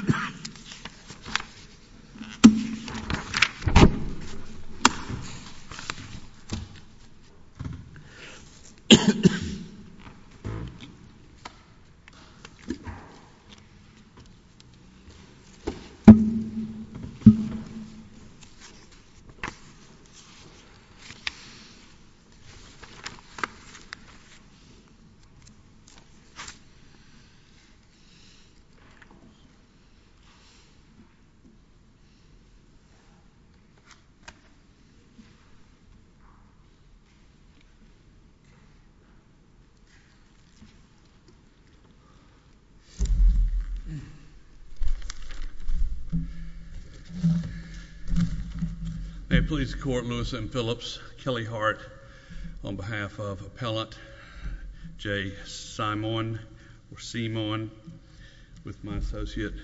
Um, Mhm, mm. n. Please, Court Lewis and Phillips. Kelly Hart on behalf of Appellant Jay Simonde or See Mon with my associate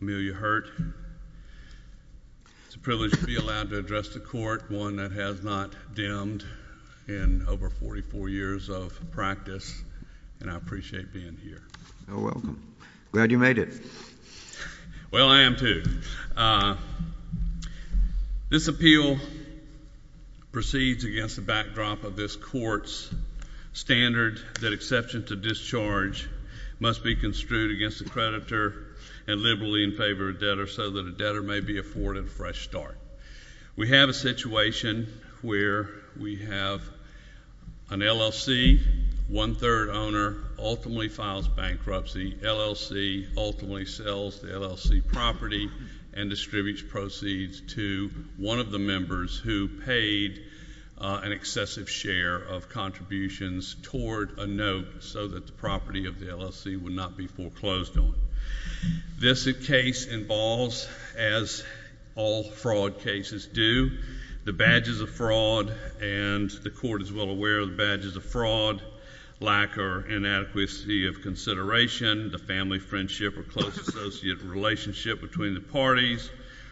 Amelia Hurt. It's a privilege to be allowed to address the court, one that has not dimmed in over 44 years of practice. And I appreciate being here. You're welcome. Glad you made it. Well, I am too. This appeal proceeds against the backdrop of this court's standard that exception to discharge must be construed against the creditor and liberally in favor of debtor so that a debtor may be afforded a fresh start. We have a situation where we have an LLC. One third owner ultimately files bankruptcy. LLC ultimately sells the LLC property and distributes proceeds to one of the members who paid an excessive share of contributions toward a note so that the property of the LLC would not be foreclosed on. This case involves, as all fraud cases do, the badges of fraud, and the court is well aware of the badges of fraud, lack or inadequacy of consideration, the family friendship or close associate relationship between the parties,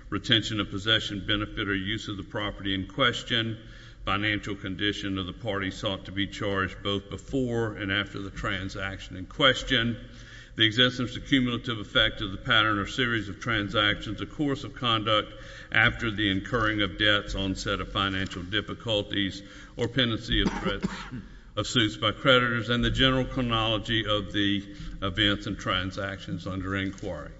retention of possession, benefit or use of the property in question. Financial condition of the party sought to be charged both before and after the transaction in question, the existence of cumulative effect of the pattern or series of transactions, the course of conduct after the incurring of debts, onset of financial difficulties, or pendency of suits by creditors, and the general chronology of the events and transactions under inquiry.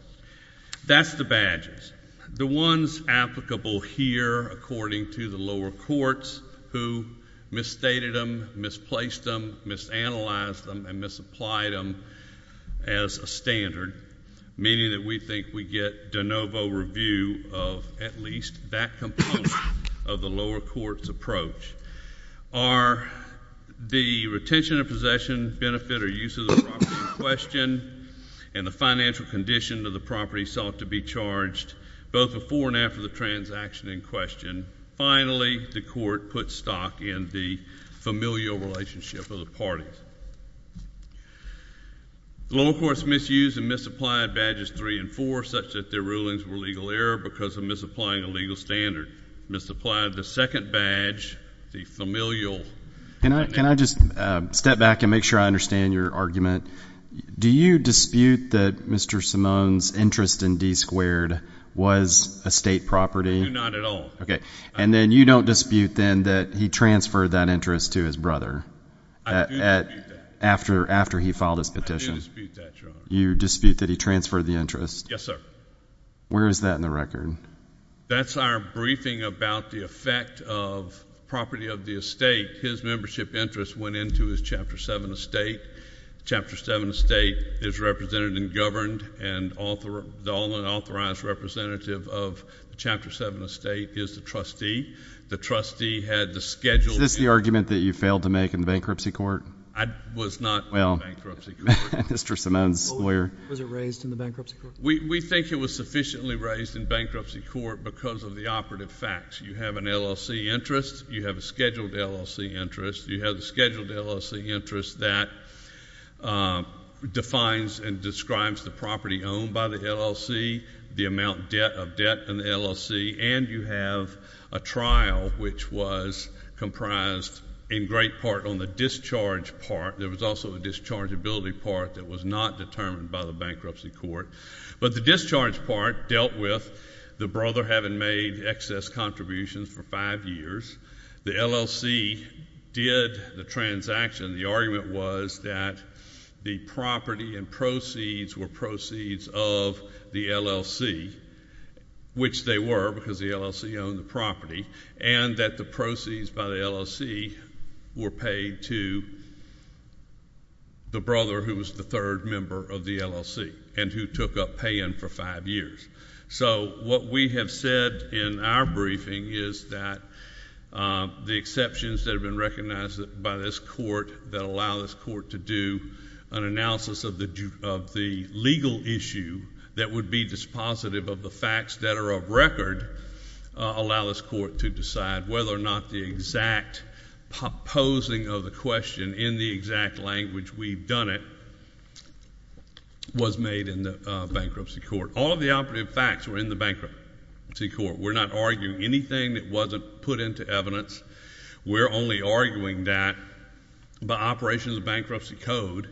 That's the badges, the ones applicable here according to the lower courts who misstated them, misplaced them, misanalyzed them, and supplied them as a standard, meaning that we think we get de novo review of at least that component of the lower court's approach. Are the retention of possession, benefit or use of the property in question, and the financial condition of the property sought to be charged both before and after the transaction in question. Finally, the court put stock in the familial relationship of the parties. The lower courts misused and misapplied badges three and four such that their rulings were legal error because of misapplying a legal standard, misapplied the second badge, the familial. Can I just step back and make sure I understand your argument? Do you dispute that Mr. Simone's interest in D squared was a state property? I do not at all. Okay. And then you don't dispute then that he transferred that interest to his brother after he filed his petition? I do dispute that, Your Honor. You dispute that he transferred the interest? Yes, sir. Where is that in the record? That's our briefing about the effect of property of the estate. His membership interest went into his Chapter 7 estate. Chapter 7 estate is represented and governed, and the property is the trustee. The trustee had the scheduled... Is this the argument that you failed to make in the bankruptcy court? I was not... Well, Mr. Simone's lawyer... Was it raised in the bankruptcy court? We think it was sufficiently raised in bankruptcy court because of the operative facts. You have an LLC interest. You have a scheduled LLC interest. You have a scheduled LLC interest that defines and describes the property owned by the LLC, the amount of debt in the LLC, and you have a trial which was comprised in great part on the discharge part. There was also a dischargeability part that was not determined by the bankruptcy court. But the discharge part dealt with the brother having made excess contributions for five years. The LLC did the transaction. The argument was that the property and proceeds were proceeds of the LLC, which they were because the LLC owned the property, and that the proceeds by the LLC were paid to the brother who was the third member of the LLC and who took up paying for five years. So what we have said in our briefing is that the exceptions that have been recognized by this court that allow this court to do an analysis of the legal issue that would be dispositive of the facts that are of record allow this court to decide whether or not the exact posing of the question in the exact language we've done it was made in the bankruptcy court. All of the operative facts were in the bankruptcy court. We're not arguing anything that wasn't put into evidence. We're only arguing that by operation of the bankruptcy code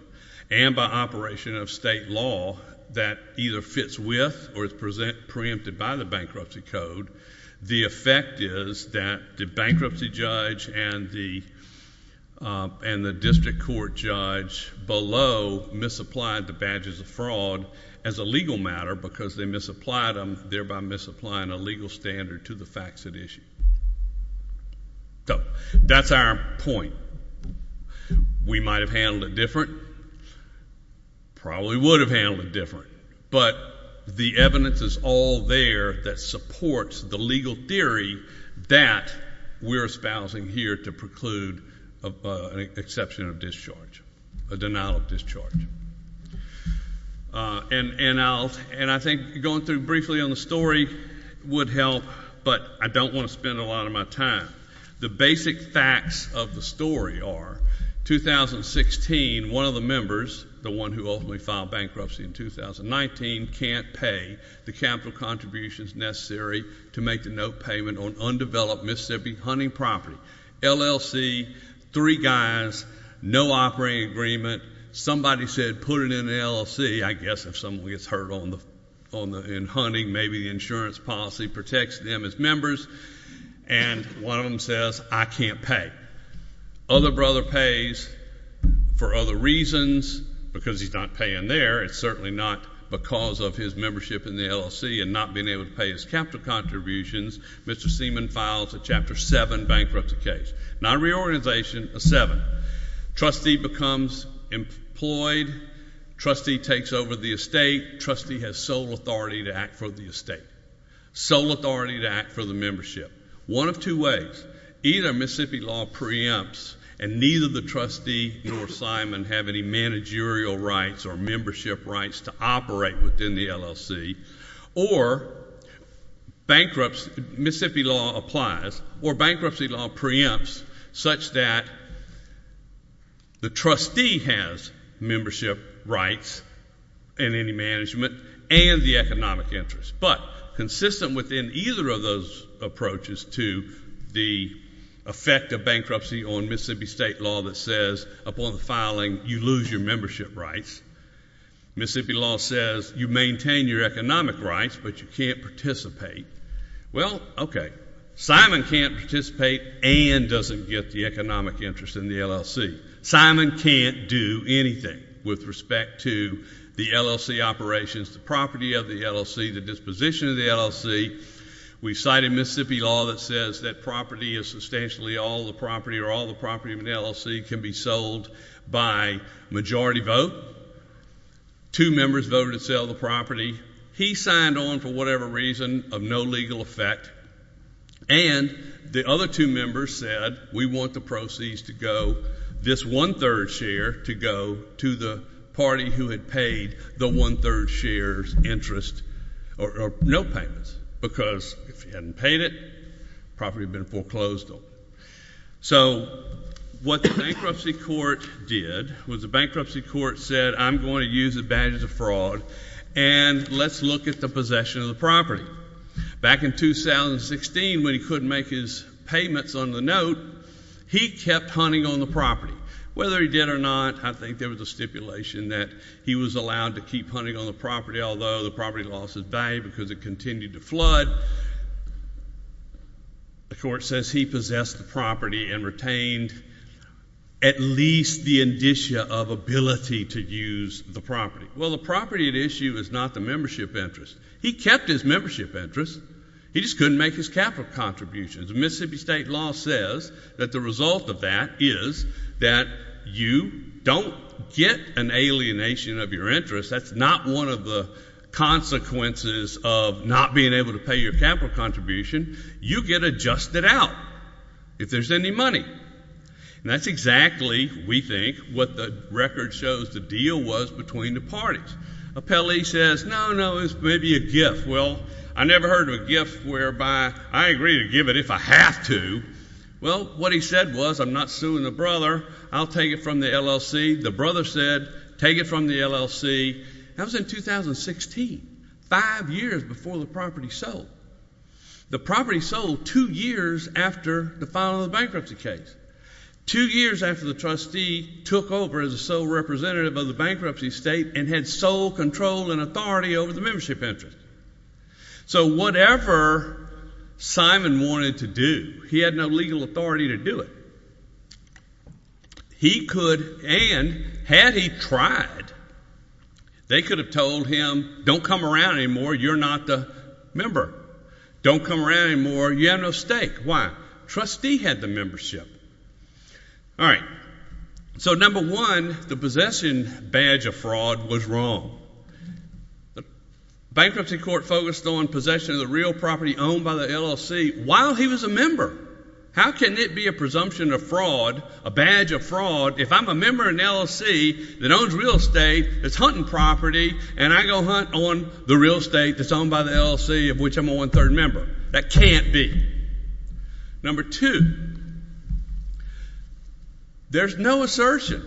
and by operation of state law that either fits with or is preempted by the bankruptcy code, the effect is that the bankruptcy judge and the district court judge below misapplied the badges of fraud as a legal matter because they misapplied them, thereby misapplying a legal standard to the facts at issue. That's our point. We might have handled it different. Probably would have handled it different. But the evidence is all there that supports the legal theory that we're espousing here to preclude an exception of discharge, a denial of discharge. And I think going through briefly on the story would help, but I don't want to spend a lot of my time. The basic facts of the story are, 2016, one of the members, the one who ultimately filed bankruptcy in 2019, can't pay the capital contributions necessary to make the note payment on undeveloped Mississippi hunting property. LLC, three guys, no operating agreement, somebody said put it in the LLC. I guess if someone gets hurt in hunting, maybe the insurance policy protects them as members. And one of them says, I can't pay. Other brother pays for other reasons because he's not paying there. It's certainly not because of his membership in the LLC and not being able to pay his capital contributions. Mr. Seaman files a Chapter 7 bankruptcy case, not a reorganization, a 7. Trustee becomes employed. Trustee takes over the estate. Trustee has sole authority to act for the estate, sole authority to act for the membership. One of two ways, either Mississippi law preempts and neither the trustee nor Seaman have any managerial rights or membership rights to operate within the LLC, or bankruptcy, Mississippi law applies, or bankruptcy law preempts such that the trustee has membership rights and any management and the economic interest, but consistent within either of those approaches to the effect of bankruptcy on Mississippi state law that says upon the filing, you lose your membership rights. Mississippi law says you maintain your economic rights, but you can't participate. Well, okay, Simon can't participate and doesn't get the economic interest in the LLC. Simon can't do anything with respect to the LLC operations, the property of the LLC, the disposition of the LLC. We cited Mississippi law that says that property is substantially all the property or all the property of an LLC can be sold by majority vote. Two members voted to sell the property. He signed on for whatever reason of no legal effect, and the other two members said we want the proceeds to go, this one-third share to go to the party who had paid the one-third share's interest or no payments, because if he hadn't paid it, the property would have been foreclosed on. So what the bankruptcy court did was the bankruptcy court said, I'm going to use advantage of fraud, and let's look at the possession of the property. Back in 2016, when he couldn't make his payments on the note, he kept hunting on the property. Whether he did or not, I think there was a stipulation that he was allowed to keep hunting on the property, although the property lost its value because it continued to flood. The court says he possessed the property and retained at least the indicia of ability to use the property. Well, the property at issue is not the membership interest. He kept his membership interest. He just couldn't make his capital contributions. The Mississippi state law says that the result of that is that you don't get an alienation of your interest. That's not one of the consequences of not being able to pay your capital contribution. You get adjusted out if there's any money. And that's exactly, we think, what the record shows the deal was between the parties. Appellee says, no, no, it's maybe a gift. Well, I never heard of a gift whereby I agree to give it if I have to. Well, what he said was, I'm not suing the brother. I'll take it from the LLC. The brother said, take it from the LLC. That was in 2016, five years before the property sold. The property sold two years after the final bankruptcy case. Two years after the trustee took over as a sole representative of the bankruptcy state and had sole control and authority over the membership interest. So whatever Simon wanted to do, he had no legal authority to do it. He could, and had he tried, they could have told him, don't come around anymore. You're not the member. Don't come around anymore. You have no stake. Why? Trustee had the membership. All right. So number one, the possession badge of fraud was wrong. The bankruptcy court focused on possession of the real property owned by the LLC while he was a member. How can it be a presumption of fraud, a badge of fraud, if I'm a member of an LLC that owns real estate that's hunting property and I go hunt on the real estate that's owned by the LLC of which I'm a one-third member? That can't be. Number two, there's no assertion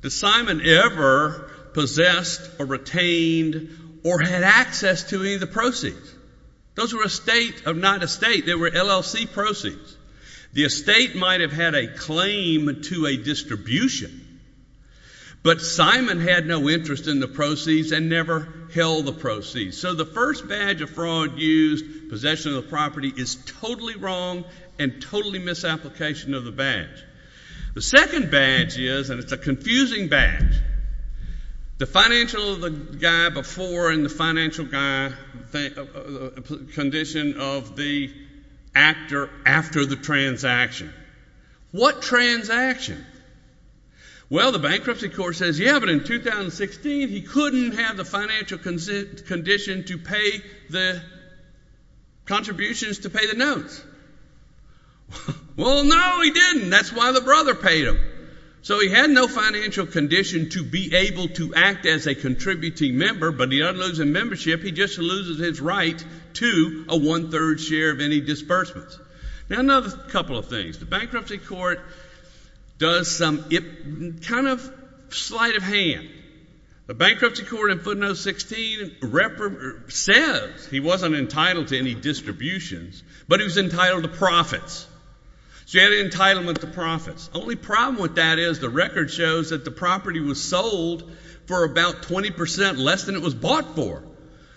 that Simon ever possessed or retained or had access to any of the proceeds. Those were estate of not estate. They were LLC proceeds. The estate might have had a claim to a distribution, but Simon had no interest in the proceeds and never held the proceeds. So the first badge of fraud used, possession of the property, is totally wrong and totally misapplication of the badge. The second badge is, and it's a confusing badge, the financial guy before and the financial guy condition of the actor after the transaction. What transaction? Well, the bankruptcy court says, yeah, but in 2016 he couldn't have the financial condition to pay the contributions to pay the notes. Well, no, he didn't. That's why the brother paid him. So he had no financial condition to be able to act as a contributing member, but he doesn't lose in membership. He just loses his right to a one-third share of any disbursements. Now, another couple of things. The bankruptcy court does some kind of sleight of hand. The bankruptcy court in footnotes 16 says he wasn't entitled to any distributions, but he was entitled to profits. So he had an entitlement to profits. Only problem with that is the record shows that the property was sold for about 20% less than it was bought for.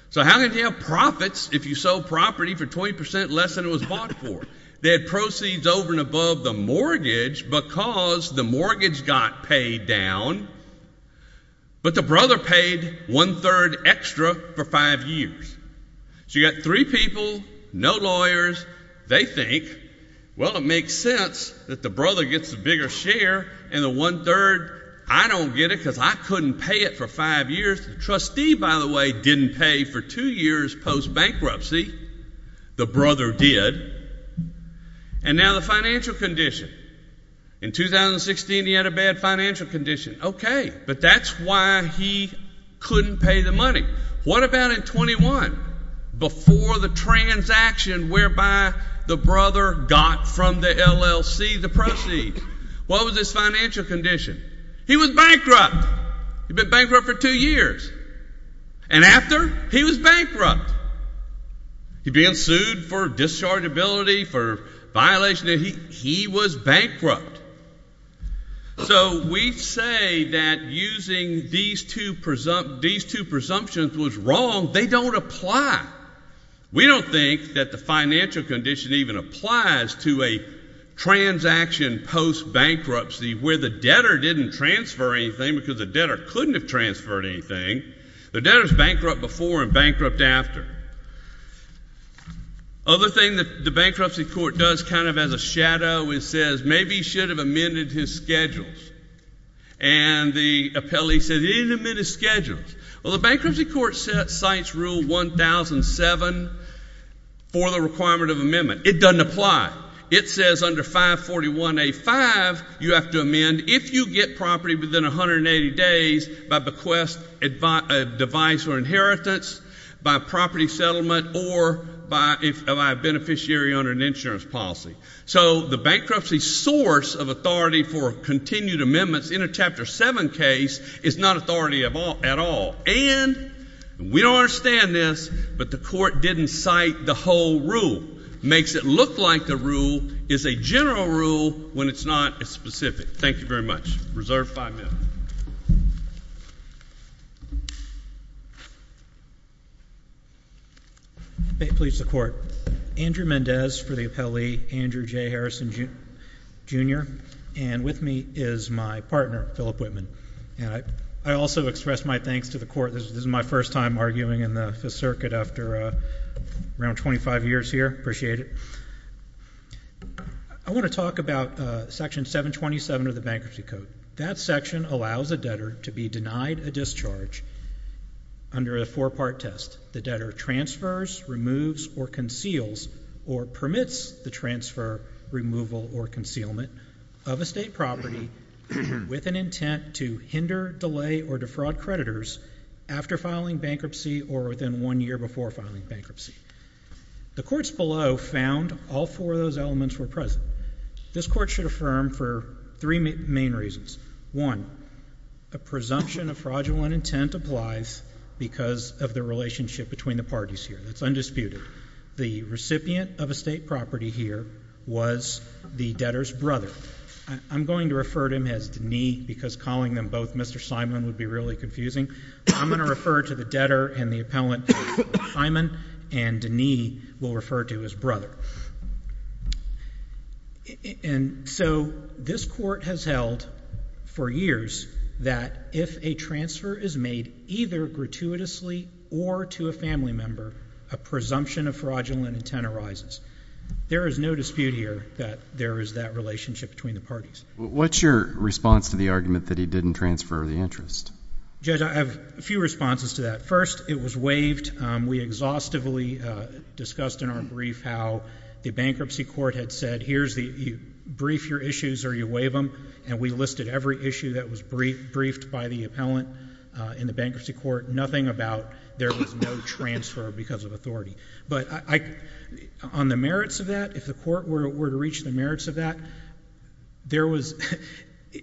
So how can you have profits if you sell property for 20% less than it was bought for? They had proceeds over and above the mortgage because the mortgage got paid down, but the brother paid one-third extra for five years. So you've got three people, no lawyers. They think, well, it makes sense that the brother gets the bigger share and the one-third, I don't get it because I couldn't pay it for five years. The trustee, by the way, didn't pay for two years post-bankruptcy. The brother did. And now the financial condition. In 2016, he had a bad financial condition. Okay. But that's why he couldn't pay the money. What about in 21, before the transaction whereby the brother got from the LLC the proceeds? What was his financial condition? He was bankrupt. He'd been bankrupt for two years. And after, he was bankrupt. He'd been sued for dischargeability, for violation. He was bankrupt. So we say that using these two presumptions was wrong. They don't apply. We don't think that the financial condition even applies to a transaction post-bankruptcy where the debtor didn't transfer anything because the debtor couldn't have transferred anything. The debtor's bankrupt before and bankrupt after. Other thing that the bankruptcy court does kind of as a shadow, it says maybe he should have amended his schedules. And the appellee said he didn't amend his schedules. Well, the bankruptcy court cites rule 1007 for the requirement of amendment. It doesn't apply. It says under 541A5, you have to amend if you get property within 180 days by bequest device or inheritance, by property settlement or by a beneficiary under an insurance policy. So the bankruptcy source of authority for continued amendments in a Chapter 7 case is not authority at all. And we don't understand this, but the court didn't cite the whole rule. Makes it look like the rule is a general rule when it's not a specific. Thank you very much. Reserved 5 minutes. May it please the Court. Andrew Mendez for the appellee, Andrew J. Harrison, Jr. And with me is my partner, Philip Whitman. And I also express my thanks to the Court. This is my first time arguing in the Fifth Circuit after around 25 years here. Appreciate it. I want to talk about Section 727 of the Bankruptcy Code. That section allows a debtor to be denied a discharge under a four-part test. The debtor transfers, removes, or conceals or permits the transfer, removal, or concealment of a state property with an intent to hinder, delay, or defraud creditors after filing bankruptcy or within one year before filing bankruptcy. The courts below found all four of those elements were present. This Court should affirm for three main reasons. One, a presumption of fraudulent intent applies because of the relationship between the parties here. That's undisputed. The recipient of a state property here was the debtor's brother. I'm going to refer to him as Denis because calling them both Mr. Simon would be really confusing. I'm going to refer to the debtor and the appellant Simon and Denis will refer to as brother. And so this Court has held for years that if a transfer is made either gratuitously or to a family member, a presumption of fraudulent intent arises. There is no dispute here that there is that relationship between the parties. What's your response to the argument that he didn't transfer the interest? Judge, I have a few responses to that. First, it was waived. We exhaustively discussed in our brief how the bankruptcy court had said, here's the, you brief your issues or you waive them. And we listed every issue that was briefed by the appellant in the bankruptcy court, nothing about there was no transfer because of authority. But on the merits of that, if the court were to reach the merits of that, there was,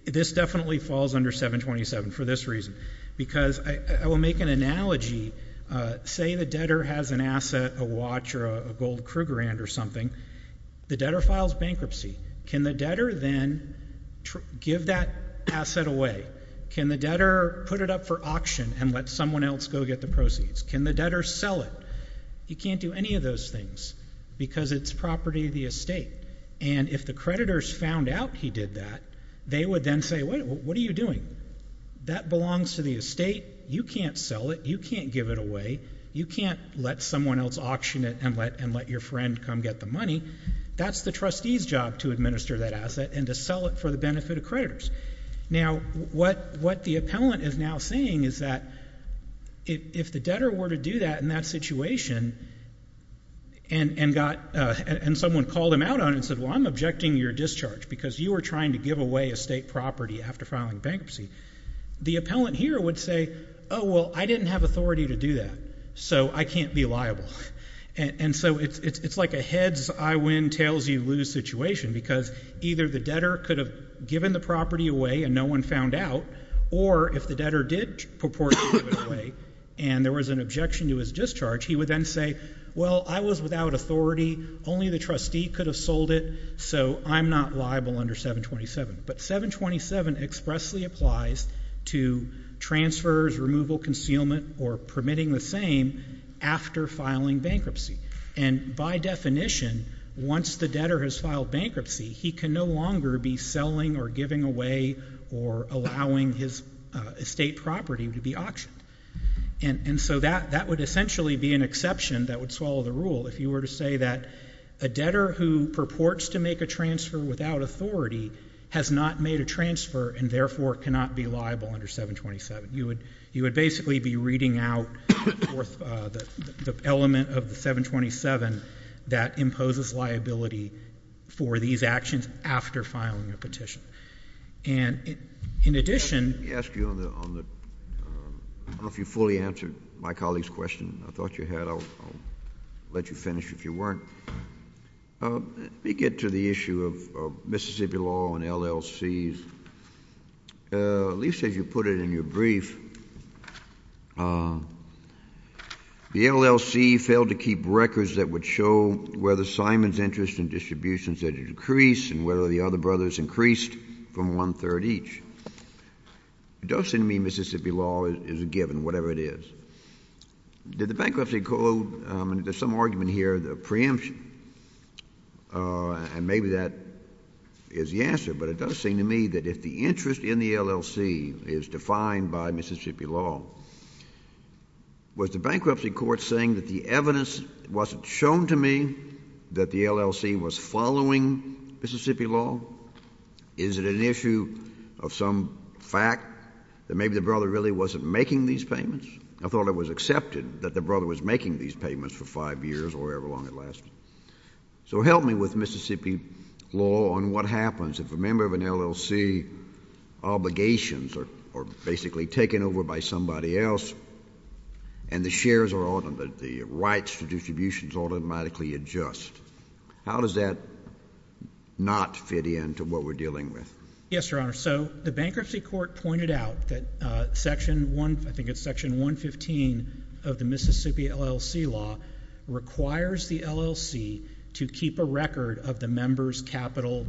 this definitely falls under 727 for this reason. Because I will make an analogy, say the debtor has an asset, a watch or a gold Krugerrand or something, the debtor files bankruptcy. Can the debtor then give that asset away? Can the debtor put it up for auction and let someone else go get the proceeds? Can the debtor sell it? You can't do any of those things because it's property of the estate. And if the creditors found out he did that, they would then say, wait, what are you doing? That belongs to the estate. You can't sell it. You can't give it away. You can't let someone else auction it and let your friend come get the money. That's the trustee's job to administer that asset and to sell it for the benefit of creditors. Now, what the appellant is now saying is that if the debtor were to do that in that situation and got, and someone called him out on it and said, well, I'm objecting your discharge because you were trying to give away estate property after filing bankruptcy, the appellant here would say, oh, well, I didn't have authority to do that, so I can't be liable. And so it's like a heads, I win, tails, you lose situation because either the debtor could have given the property away and no one found out, or if the debtor did purport to give it away and there was an objection to his discharge, he would then say, well, I was without authority. Only the trustee could have sold it, so I'm not liable under 727. But 727 expressly applies to transfers, removal, concealment, or permitting the same after filing bankruptcy. And by definition, once the debtor has filed bankruptcy, he can no longer be selling or giving away or allowing his estate property to be auctioned. And so that would essentially be an exception that would swallow the rule. If you were to say that a debtor who purports to make a transfer without authority has not made a transfer and, therefore, cannot be liable under 727, you would basically be reading out the element of the 727 that imposes liability for these actions after filing a petition. And in addition — Let me ask you on the — I don't know if you fully answered my colleague's question. I thought you had. I'll let you finish if you weren't. Let me get to the issue of Mississippi law and LLCs. At least as you put it in your brief, the LLC failed to keep records that would show whether Simon's interest in distributions had decreased and whether the other brothers increased from one-third each. It doesn't mean Mississippi law is a given, whatever it is. Did the bankruptcy court declare the preemption? And maybe that is the answer, but it does seem to me that if the interest in the LLC is defined by Mississippi law, was the bankruptcy court saying that the evidence wasn't shown to me that the LLC was following Mississippi law? Is it an issue of some fact that maybe the brother really wasn't making these payments? I thought it was accepted that the brother was making these payments for five years or however long it lasted. So help me with Mississippi law on what happens if a member of an LLC obligations are basically taken over by somebody else and the shares are — the rights to distributions automatically adjust. How does that not fit in to what we're dealing with? Yes, Your Honor. So the bankruptcy court pointed out that section 115 of the Mississippi LLC law requires the LLC to keep a record of the member's capital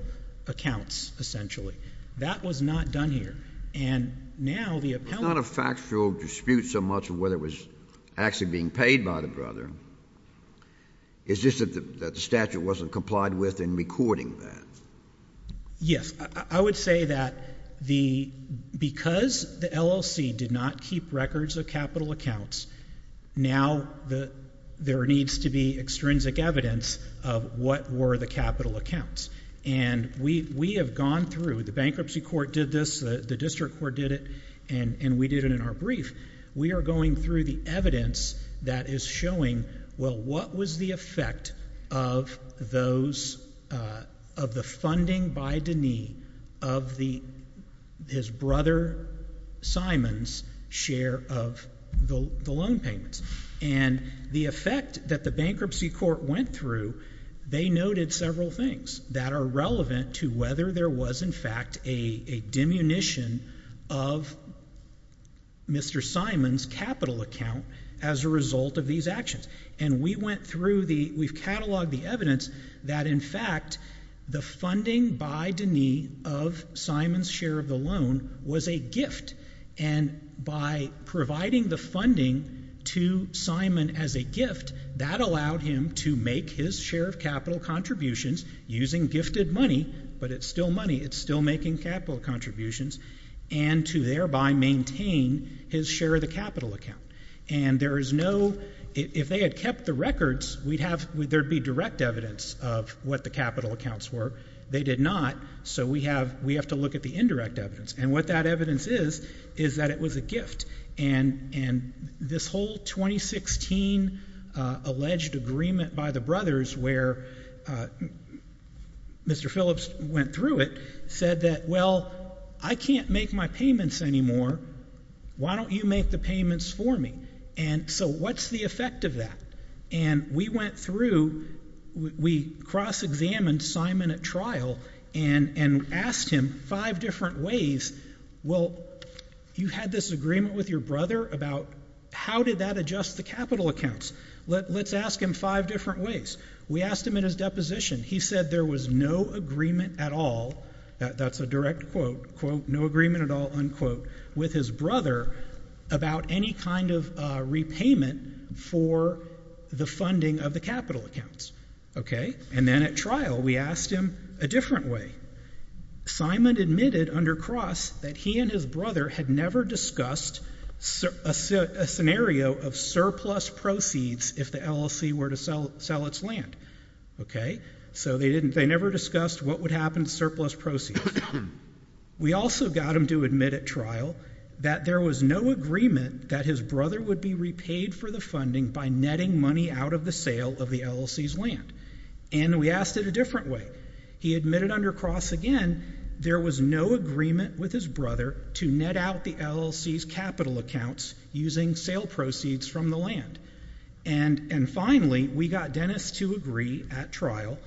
accounts, essentially. That was not done here. And now the appellate... It's not a factual dispute so much of whether it was actually being paid by the brother. It's just that the statute wasn't complied with in recording that. Yes. I would say that because the LLC did not keep records of capital accounts, now there needs to be extrinsic evidence of what were the capital accounts. And we have gone through — the bankruptcy court did this, the district court did it, and we did it in our brief. We are going through the evidence that is showing, well, what was the effect of those — of the funding by Deney of his brother Simon's share of the loan payments? And the effect that the bankruptcy court went through, they noted several things that are relevant to whether there was, in fact, a diminution of Mr. Simon's capital account as a result of these actions. And we went through the — we've cataloged the evidence that, in fact, the funding by Deney of Simon's share of the loan was a gift. And by providing the funding to Simon as a gift, that allowed him to make his share of capital contributions using gifted money — but it's still money, it's still making capital contributions — and to thereby maintain his share of the capital contributions. Now, in the records, we'd have — there'd be direct evidence of what the capital accounts were. They did not. So we have to look at the indirect evidence. And what that evidence is, is that it was a gift. And this whole 2016 alleged agreement by the brothers, where Mr. Phillips went through it, said that, well, I can't make my payments anymore. Why don't you make the payments for me? And so what's the effect of that? And we went through — we cross-examined Simon at trial and asked him five different ways, well, you had this agreement with your brother about how did that adjust the capital accounts? Let's ask him five different ways. We asked him in his deposition. He said there was no agreement at all — that's a direct quote — quote, no agreement at all, unquote, with his brother about any kind of repayment for the funding of the capital accounts. Okay? And then at trial, we asked him a different way. Simon admitted under Cross that he and his brother had never discussed a scenario of surplus proceeds if the LLC were to sell its land. Okay? So they didn't — they never discussed what would happen to surplus proceeds. We asked him at trial that there was no agreement that his brother would be repaid for the funding by netting money out of the sale of the LLC's land. And we asked it a different way. He admitted under Cross again there was no agreement with his brother to net out the LLC's capital accounts using sale proceeds from the land. And finally, we got Dennis to agree at trial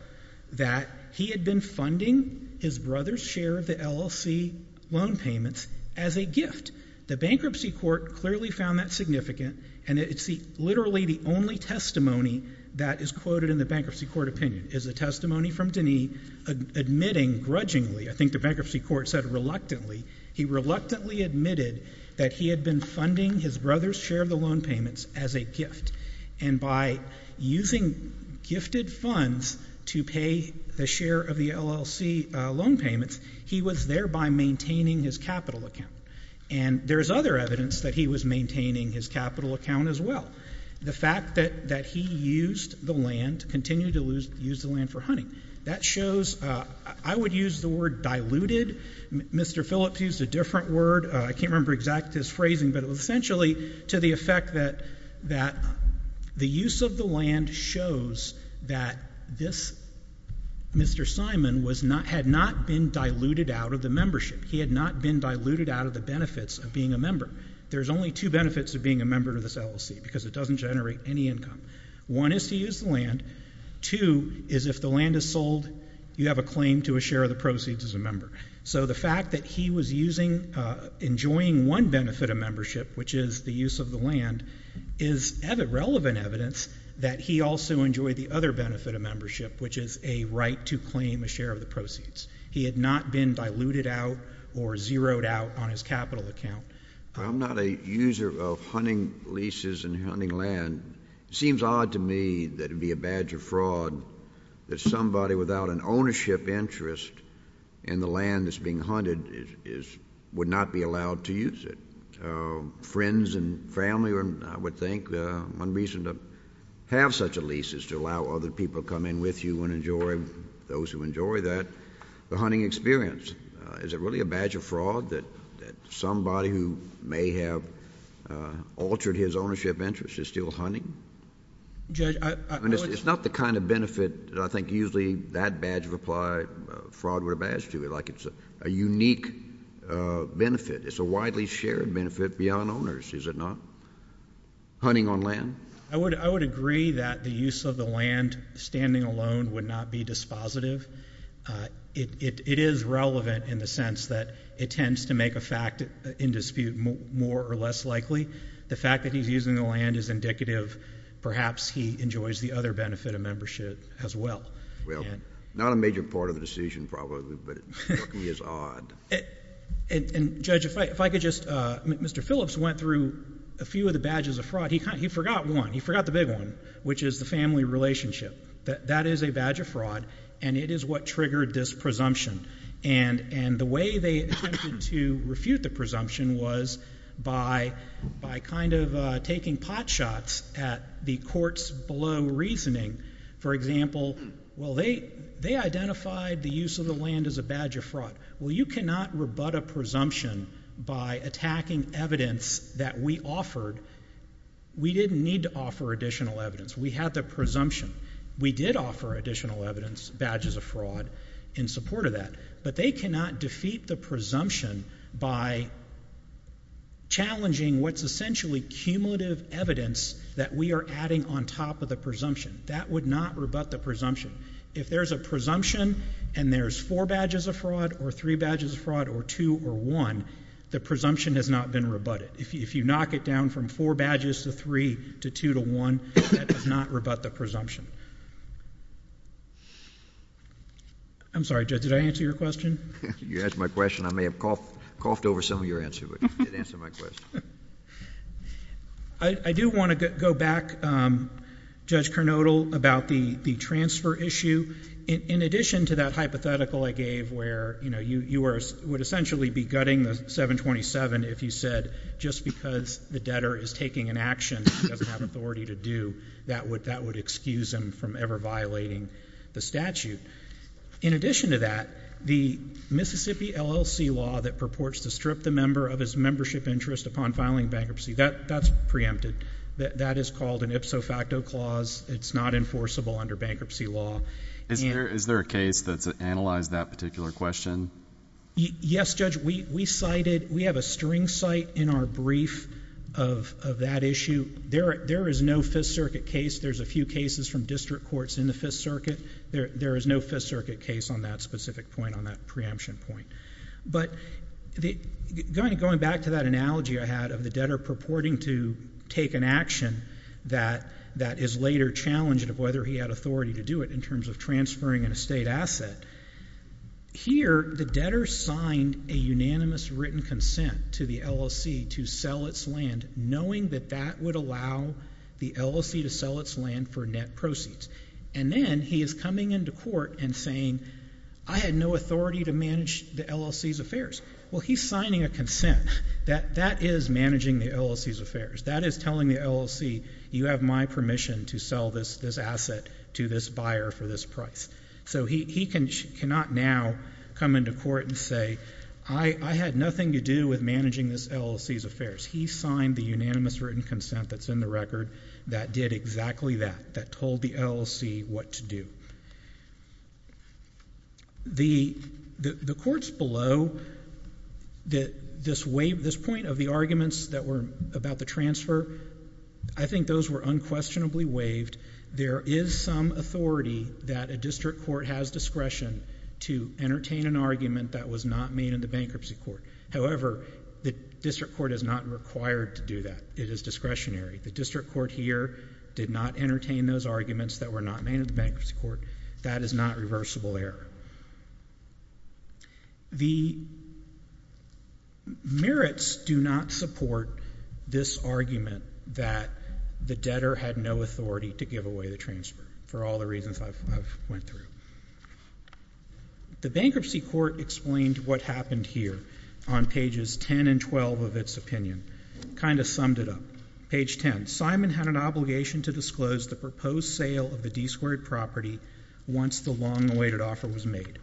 that he had been funding his brother's share of LLC loan payments as a gift. The bankruptcy court clearly found that significant, and it's literally the only testimony that is quoted in the bankruptcy court opinion. It's a testimony from Denis admitting grudgingly — I think the bankruptcy court said reluctantly — he reluctantly admitted that he had been funding his brother's share of the loan payments as a gift. And by using gifted funds to pay the share of the LLC loan payments, he was thereby maintaining his capital account. And there is other evidence that he was maintaining his capital account as well. The fact that he used the land — continued to use the land for hunting — that shows — I would use the word diluted. Mr. Phillips used a different word. I can't remember exactly his phrasing, but it was essentially to the effect that the use of the land shows that this — Mr. Simon was not — had not been diluted out of the membership. He had not been diluted out of the benefits of being a member. There's only two benefits of being a member of this LLC, because it doesn't generate any income. One is to use the land. Two is if the land is sold, you have a claim to a share of the proceeds as a member. So the fact that he was using — enjoying one benefit of membership, which is the use of the land, is relevant evidence that he also enjoyed the other benefit of membership, which is a right to claim a share of the proceeds. He had not been diluted out or zeroed out on his capital account. I'm not a user of hunting leases and hunting land. It seems odd to me that it would be a badge of fraud that somebody without an ownership interest in the land that's being hunted is — would not be allowed to use it. Friends and family, I would think, one reason to have such a lease is to allow other people to come in with you and enjoy — those who enjoy that — the hunting experience. Is it really a badge of fraud that somebody who may have altered his ownership interest is still hunting? I mean, it's not the kind of benefit that I think usually that badge of fraud would have added to it, like it's a unique benefit. It's a widely shared benefit beyond owners, is it not? Hunting on land? I would agree that the use of the land standing alone would not be dispositive. It is relevant in the sense that it tends to make a fact in dispute more or less likely. The fact that he's using the land is indicative. Perhaps he enjoys the other benefit of membership as well. Well, not a major part of the decision, probably, but it is odd. And, Judge, if I could just — Mr. Phillips went through a few of the badges of fraud. He forgot one. He forgot the big one, which is the family relationship. That is a badge of fraud, and it is what triggered this presumption. And the way they attempted to refute the presumption was by kind of taking pot shots at the courts below reasoning. For example, well, they identified the use of the land as a badge of fraud. Well, you cannot rebut a presumption by attacking evidence that we offered. We didn't need to offer additional evidence. We had the presumption. We did offer additional evidence, badges of fraud, in support of that. But they cannot defeat the presumption by challenging what's essentially cumulative evidence that we are adding on top of the presumption. That would not rebut the presumption. If there's a presumption and there's four badges of fraud or three badges of fraud or two or one, the presumption has not been rebutted. If you knock it down from four badges to three to two to one, that does not rebut the presumption. I'm sorry, Judge, did I answer your question? You asked my question. I may have coughed over some of your answers, but you did answer my question. I do want to go back, Judge Kernodle, about the transfer issue. In addition to that hypothetical I gave where you would essentially be gutting the 727 if you said, just because the debtor is taking an action he doesn't have authority to do, that would excuse him from ever violating the statute. In addition to that, the Mississippi LLC law that purports to strip the member of his membership interest upon filing bankruptcy, that's preempted. That is called an ipso facto clause. It's not enforceable under bankruptcy law. Is there a case that's analyzed that particular question? Yes, Judge, we have a string cite in our brief of that issue. There is no Fifth Circuit case. There's a few cases from district courts in the Fifth Circuit. There is no Fifth Circuit case on that specific point, on that preemption point. Going back to that analogy I had of the debtor purporting to take an action that is later challenged of whether he had authority to do it in terms of transferring an estate asset. Here, the debtor signed a unanimous written consent to the LLC to sell its land knowing that that would allow the LLC to sell its land for net proceeds. And then he is coming into court and saying, I had no authority to manage the LLC's affairs. Well, he's signing a consent. That is managing the LLC's affairs. That is telling the LLC, you have my permission to sell this asset to this buyer for this price. So he cannot now come into court and say, I had nothing to do with managing this LLC's affairs. He signed the unanimous written consent that's in the record that did exactly that, that told the LLC what to do. The courts below, this point of the arguments that were about the transfer, I think those were unquestionably waived. There is some authority that a district court has discretion to entertain an argument that was not made in the bankruptcy court. However, the district court is not required to do that. It is discretionary. The district court here did not entertain those arguments that were not made in the bankruptcy court. That is not reversible error. The merits do not support this argument that the debtor had no authority to give away the transfer for all the reasons I've went through. The bankruptcy court explained what happened here on pages 10 and 12 of its opinion, kind of summed it up. Page 10, Simon had an obligation to disclose the proposed sale of the D-squared property once the long-awaited offer was made.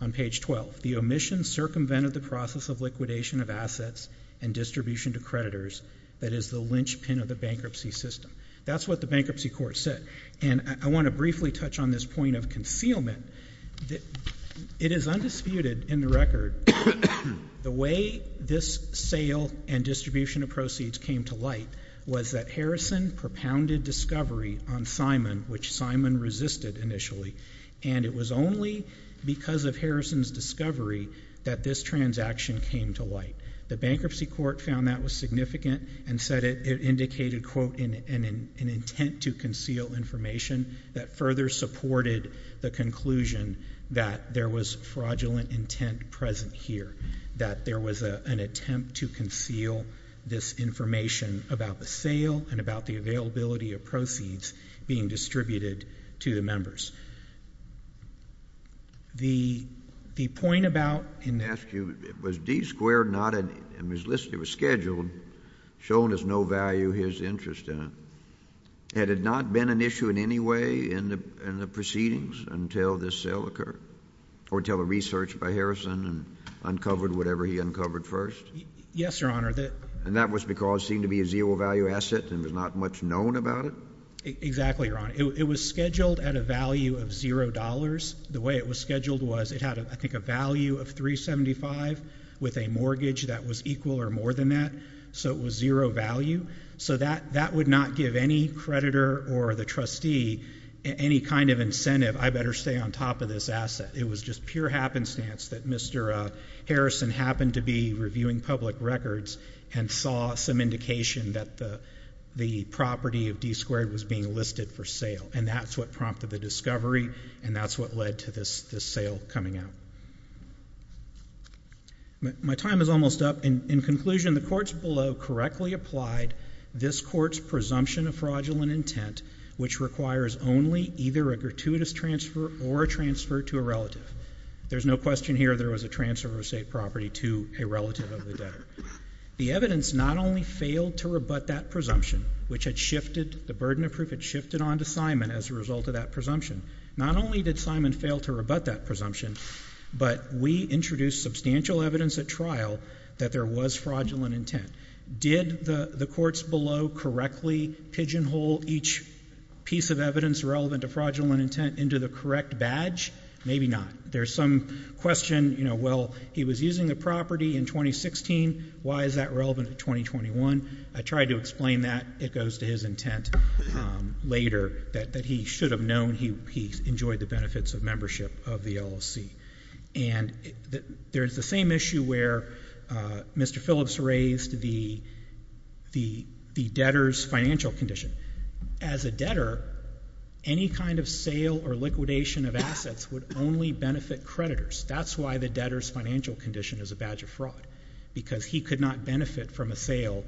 On page 12, the omission circumvented the process of liquidation of assets and distribution to creditors that is the linchpin of the bankruptcy system. That's what the bankruptcy court said. And I want to briefly touch on this point of concealment. It is undisputed in the record, the way this sale and distribution of proceeds came to light was that Harrison propounded discovery on Simon, which Simon resisted initially, and it was only because of Harrison's discovery that this transaction came to light, the bankruptcy court found that was significant and said it indicated, quote, an intent to conceal information that further supported the conclusion that there was fraudulent intent present here. That there was an attempt to conceal this information about the sale and about the availability of proceeds being distributed to the members. The point about- I'm going to ask you, was D-squared not, it was scheduled, shown as no value, his interest in it. Had it not been an issue in any way in the proceedings until this sale occurred? Or until the research by Harrison and uncovered whatever he uncovered first? Yes, Your Honor. And that was because it seemed to be a zero value asset and was not much known about it? Exactly, Your Honor. It was scheduled at a value of zero dollars. The way it was scheduled was it had, I think, a value of 375 with a mortgage that was equal or more than that, so it was zero value. So that would not give any creditor or the trustee any kind of incentive, I better stay on top of this asset, it was just pure happenstance that Mr. Harrison happened to be reviewing public records and saw some indication that the property of D-squared was being listed for sale. And that's what prompted the discovery, and that's what led to this sale coming out. My time is almost up. In conclusion, the courts below correctly applied this court's presumption of fraudulent intent, which requires only either a gratuitous transfer or a transfer to a relative. There's no question here there was a transfer of estate property to a relative of the debtor. The evidence not only failed to rebut that presumption, which had shifted, the burden of proof had shifted on to Simon as a result of that presumption. Not only did Simon fail to rebut that presumption, but we introduced substantial evidence at trial that there was fraudulent intent. Did the courts below correctly pigeonhole each piece of evidence relevant to fraudulent intent into the correct badge? Maybe not. There's some question, well, he was using the property in 2016, why is that relevant to 2021? I tried to explain that. It goes to his intent later that he should have known he enjoyed the benefits of membership of the LLC. And there's the same issue where Mr. Phillips raised the debtor's financial condition. As a debtor, any kind of sale or liquidation of assets would only benefit creditors. That's why the debtor's financial condition is a badge of fraud. Because he could not benefit from a sale,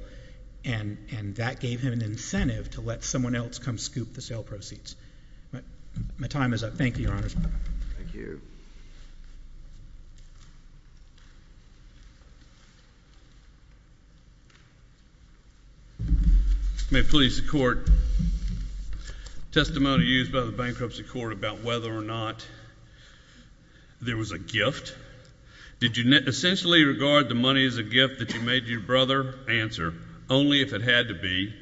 and that gave him an incentive to let someone else come scoop the sale proceeds. My time is up. Thank you, Your Honors. Thank you. May it please the court. Testimony used by the bankruptcy court about whether or not there was a gift. Did you essentially regard the money as a gift that you made your brother? Answer, only if it had to be.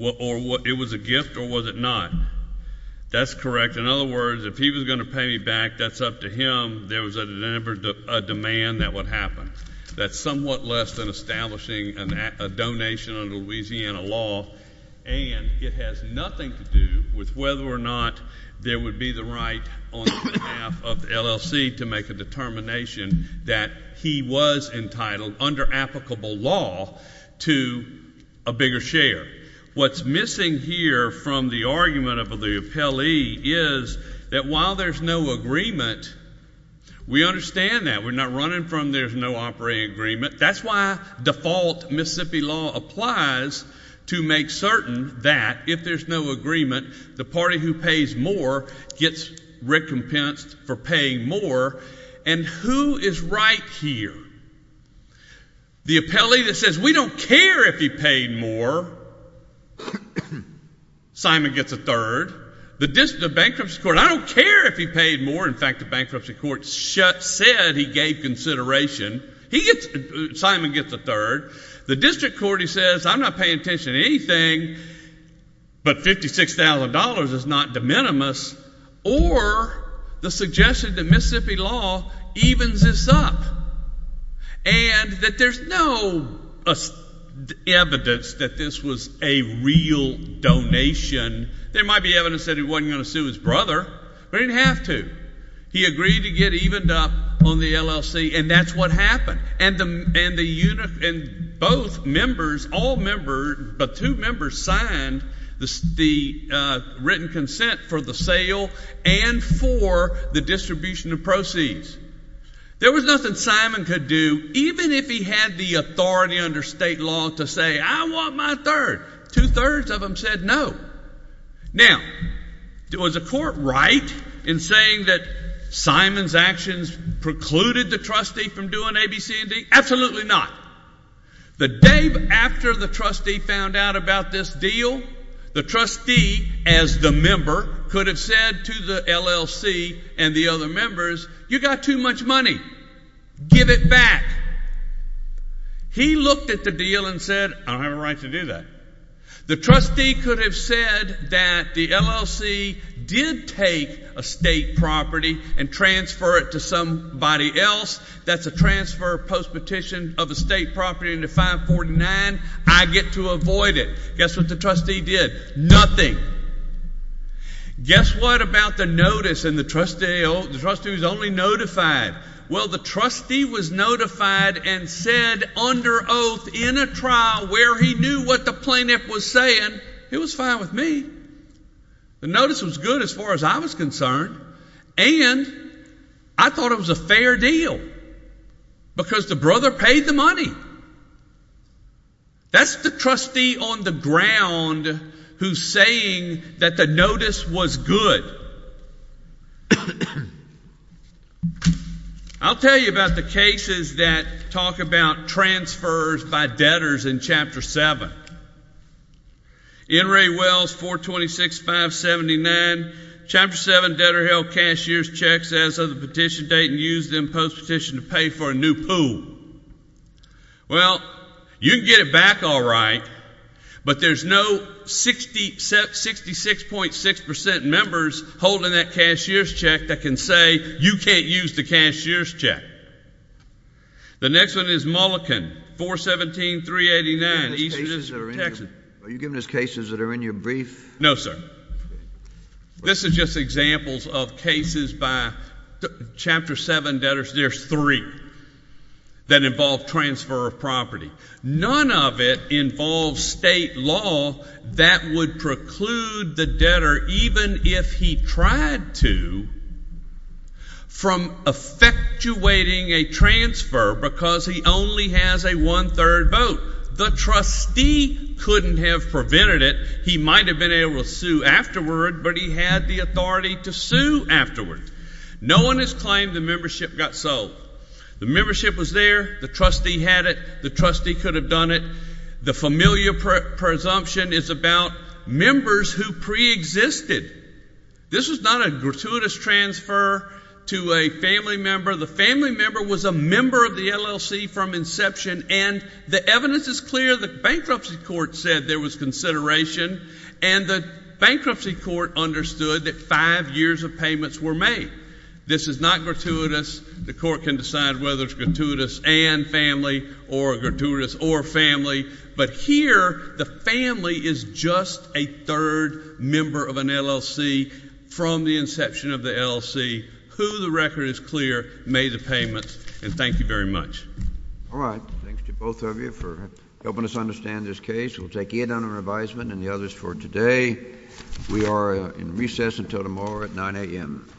It was a gift or was it not? That's correct. In other words, if he was going to pay me back, that's up to him. There was a demand that would happen. That's somewhat less than establishing a donation under Louisiana law. And it has nothing to do with whether or not there would be the right on behalf of the LLC to make a determination that he was entitled under applicable law to a bigger share. What's missing here from the argument of the appellee is that while there's no agreement, we understand that. We're not running from there's no operating agreement. That's why default Mississippi law applies to make certain that if there's no agreement, the party who pays more gets recompensed for paying more. And who is right here? The appellee that says we don't care if he paid more, Simon gets a third. The bankruptcy court, I don't care if he paid more. In fact, the bankruptcy court said he gave consideration. He gets, Simon gets a third. The district court, he says, I'm not paying attention to anything, but $56,000 is not de minimis or the suggestion that Mississippi law evens this up. And that there's no evidence that this was a real donation. There might be evidence that he wasn't going to sue his brother, but he didn't have to. He agreed to get evened up on the LLC, and that's what happened. And the unit, and both members, all members, but two members signed the written consent for the sale and for the distribution of proceeds. There was nothing Simon could do, even if he had the authority under state law to say, I want my third. Two-thirds of them said no. Now, was the court right in saying that Simon's actions precluded the trustee from doing A, B, C, and D? Absolutely not. The day after the trustee found out about this deal, the trustee, as the member, could have said to the LLC and the other members, you got too much money. Give it back. He looked at the deal and said, I don't have a right to do that. The trustee could have said that the LLC did take a state property and transfer it to somebody else. That's a transfer post-petition of a state property into 549. I get to avoid it. Guess what the trustee did? Nothing. Guess what about the notice, and the trustee was only notified? Well, the trustee was notified and said under oath in a trial where he knew what the plaintiff was saying, it was fine with me. The notice was good as far as I was concerned. And I thought it was a fair deal because the brother paid the money. That's the trustee on the ground who's saying that the notice was good. I'll tell you about the cases that talk about transfers by debtors in Chapter 7. N. Ray Wells, 426,579. Chapter 7 debtor held cashier's checks as of the petition date and used them post-petition to pay for a new pool. Well, you can get it back all right, but there's no 66.6% members holding that cashier's check that can say, you can't use the cashier's check. The next one is Mulliken, 417,389, east of Texas. Are you giving us cases that are in your brief? No, sir. This is just examples of cases by Chapter 7 debtors. There's three that involve transfer of property. None of it involves state law that would preclude the debtor even if he tried to from effectuating a transfer because he only has a one-third vote. The trustee couldn't have prevented it. He might have been able to sue afterward, but he had the authority to sue afterward. No one has claimed the membership got sold. The membership was there. The trustee had it. The trustee could have done it. The familiar presumption is about members who preexisted. This is not a gratuitous transfer to a family member. The family member was a member of the LLC from inception, and the evidence is clear. The bankruptcy court said there was consideration, and the bankruptcy court understood that five years of payments were made. This is not gratuitous. The court can decide whether it's gratuitous and family, or gratuitous or family. But here, the family is just a third member of an LLC from the inception of the LLC who the record is clear made the payments. And thank you very much. All right. Thanks to both of you for helping us understand this case. We'll take Ed on our advisement and the others for today. We are in recess until tomorrow at 9 AM.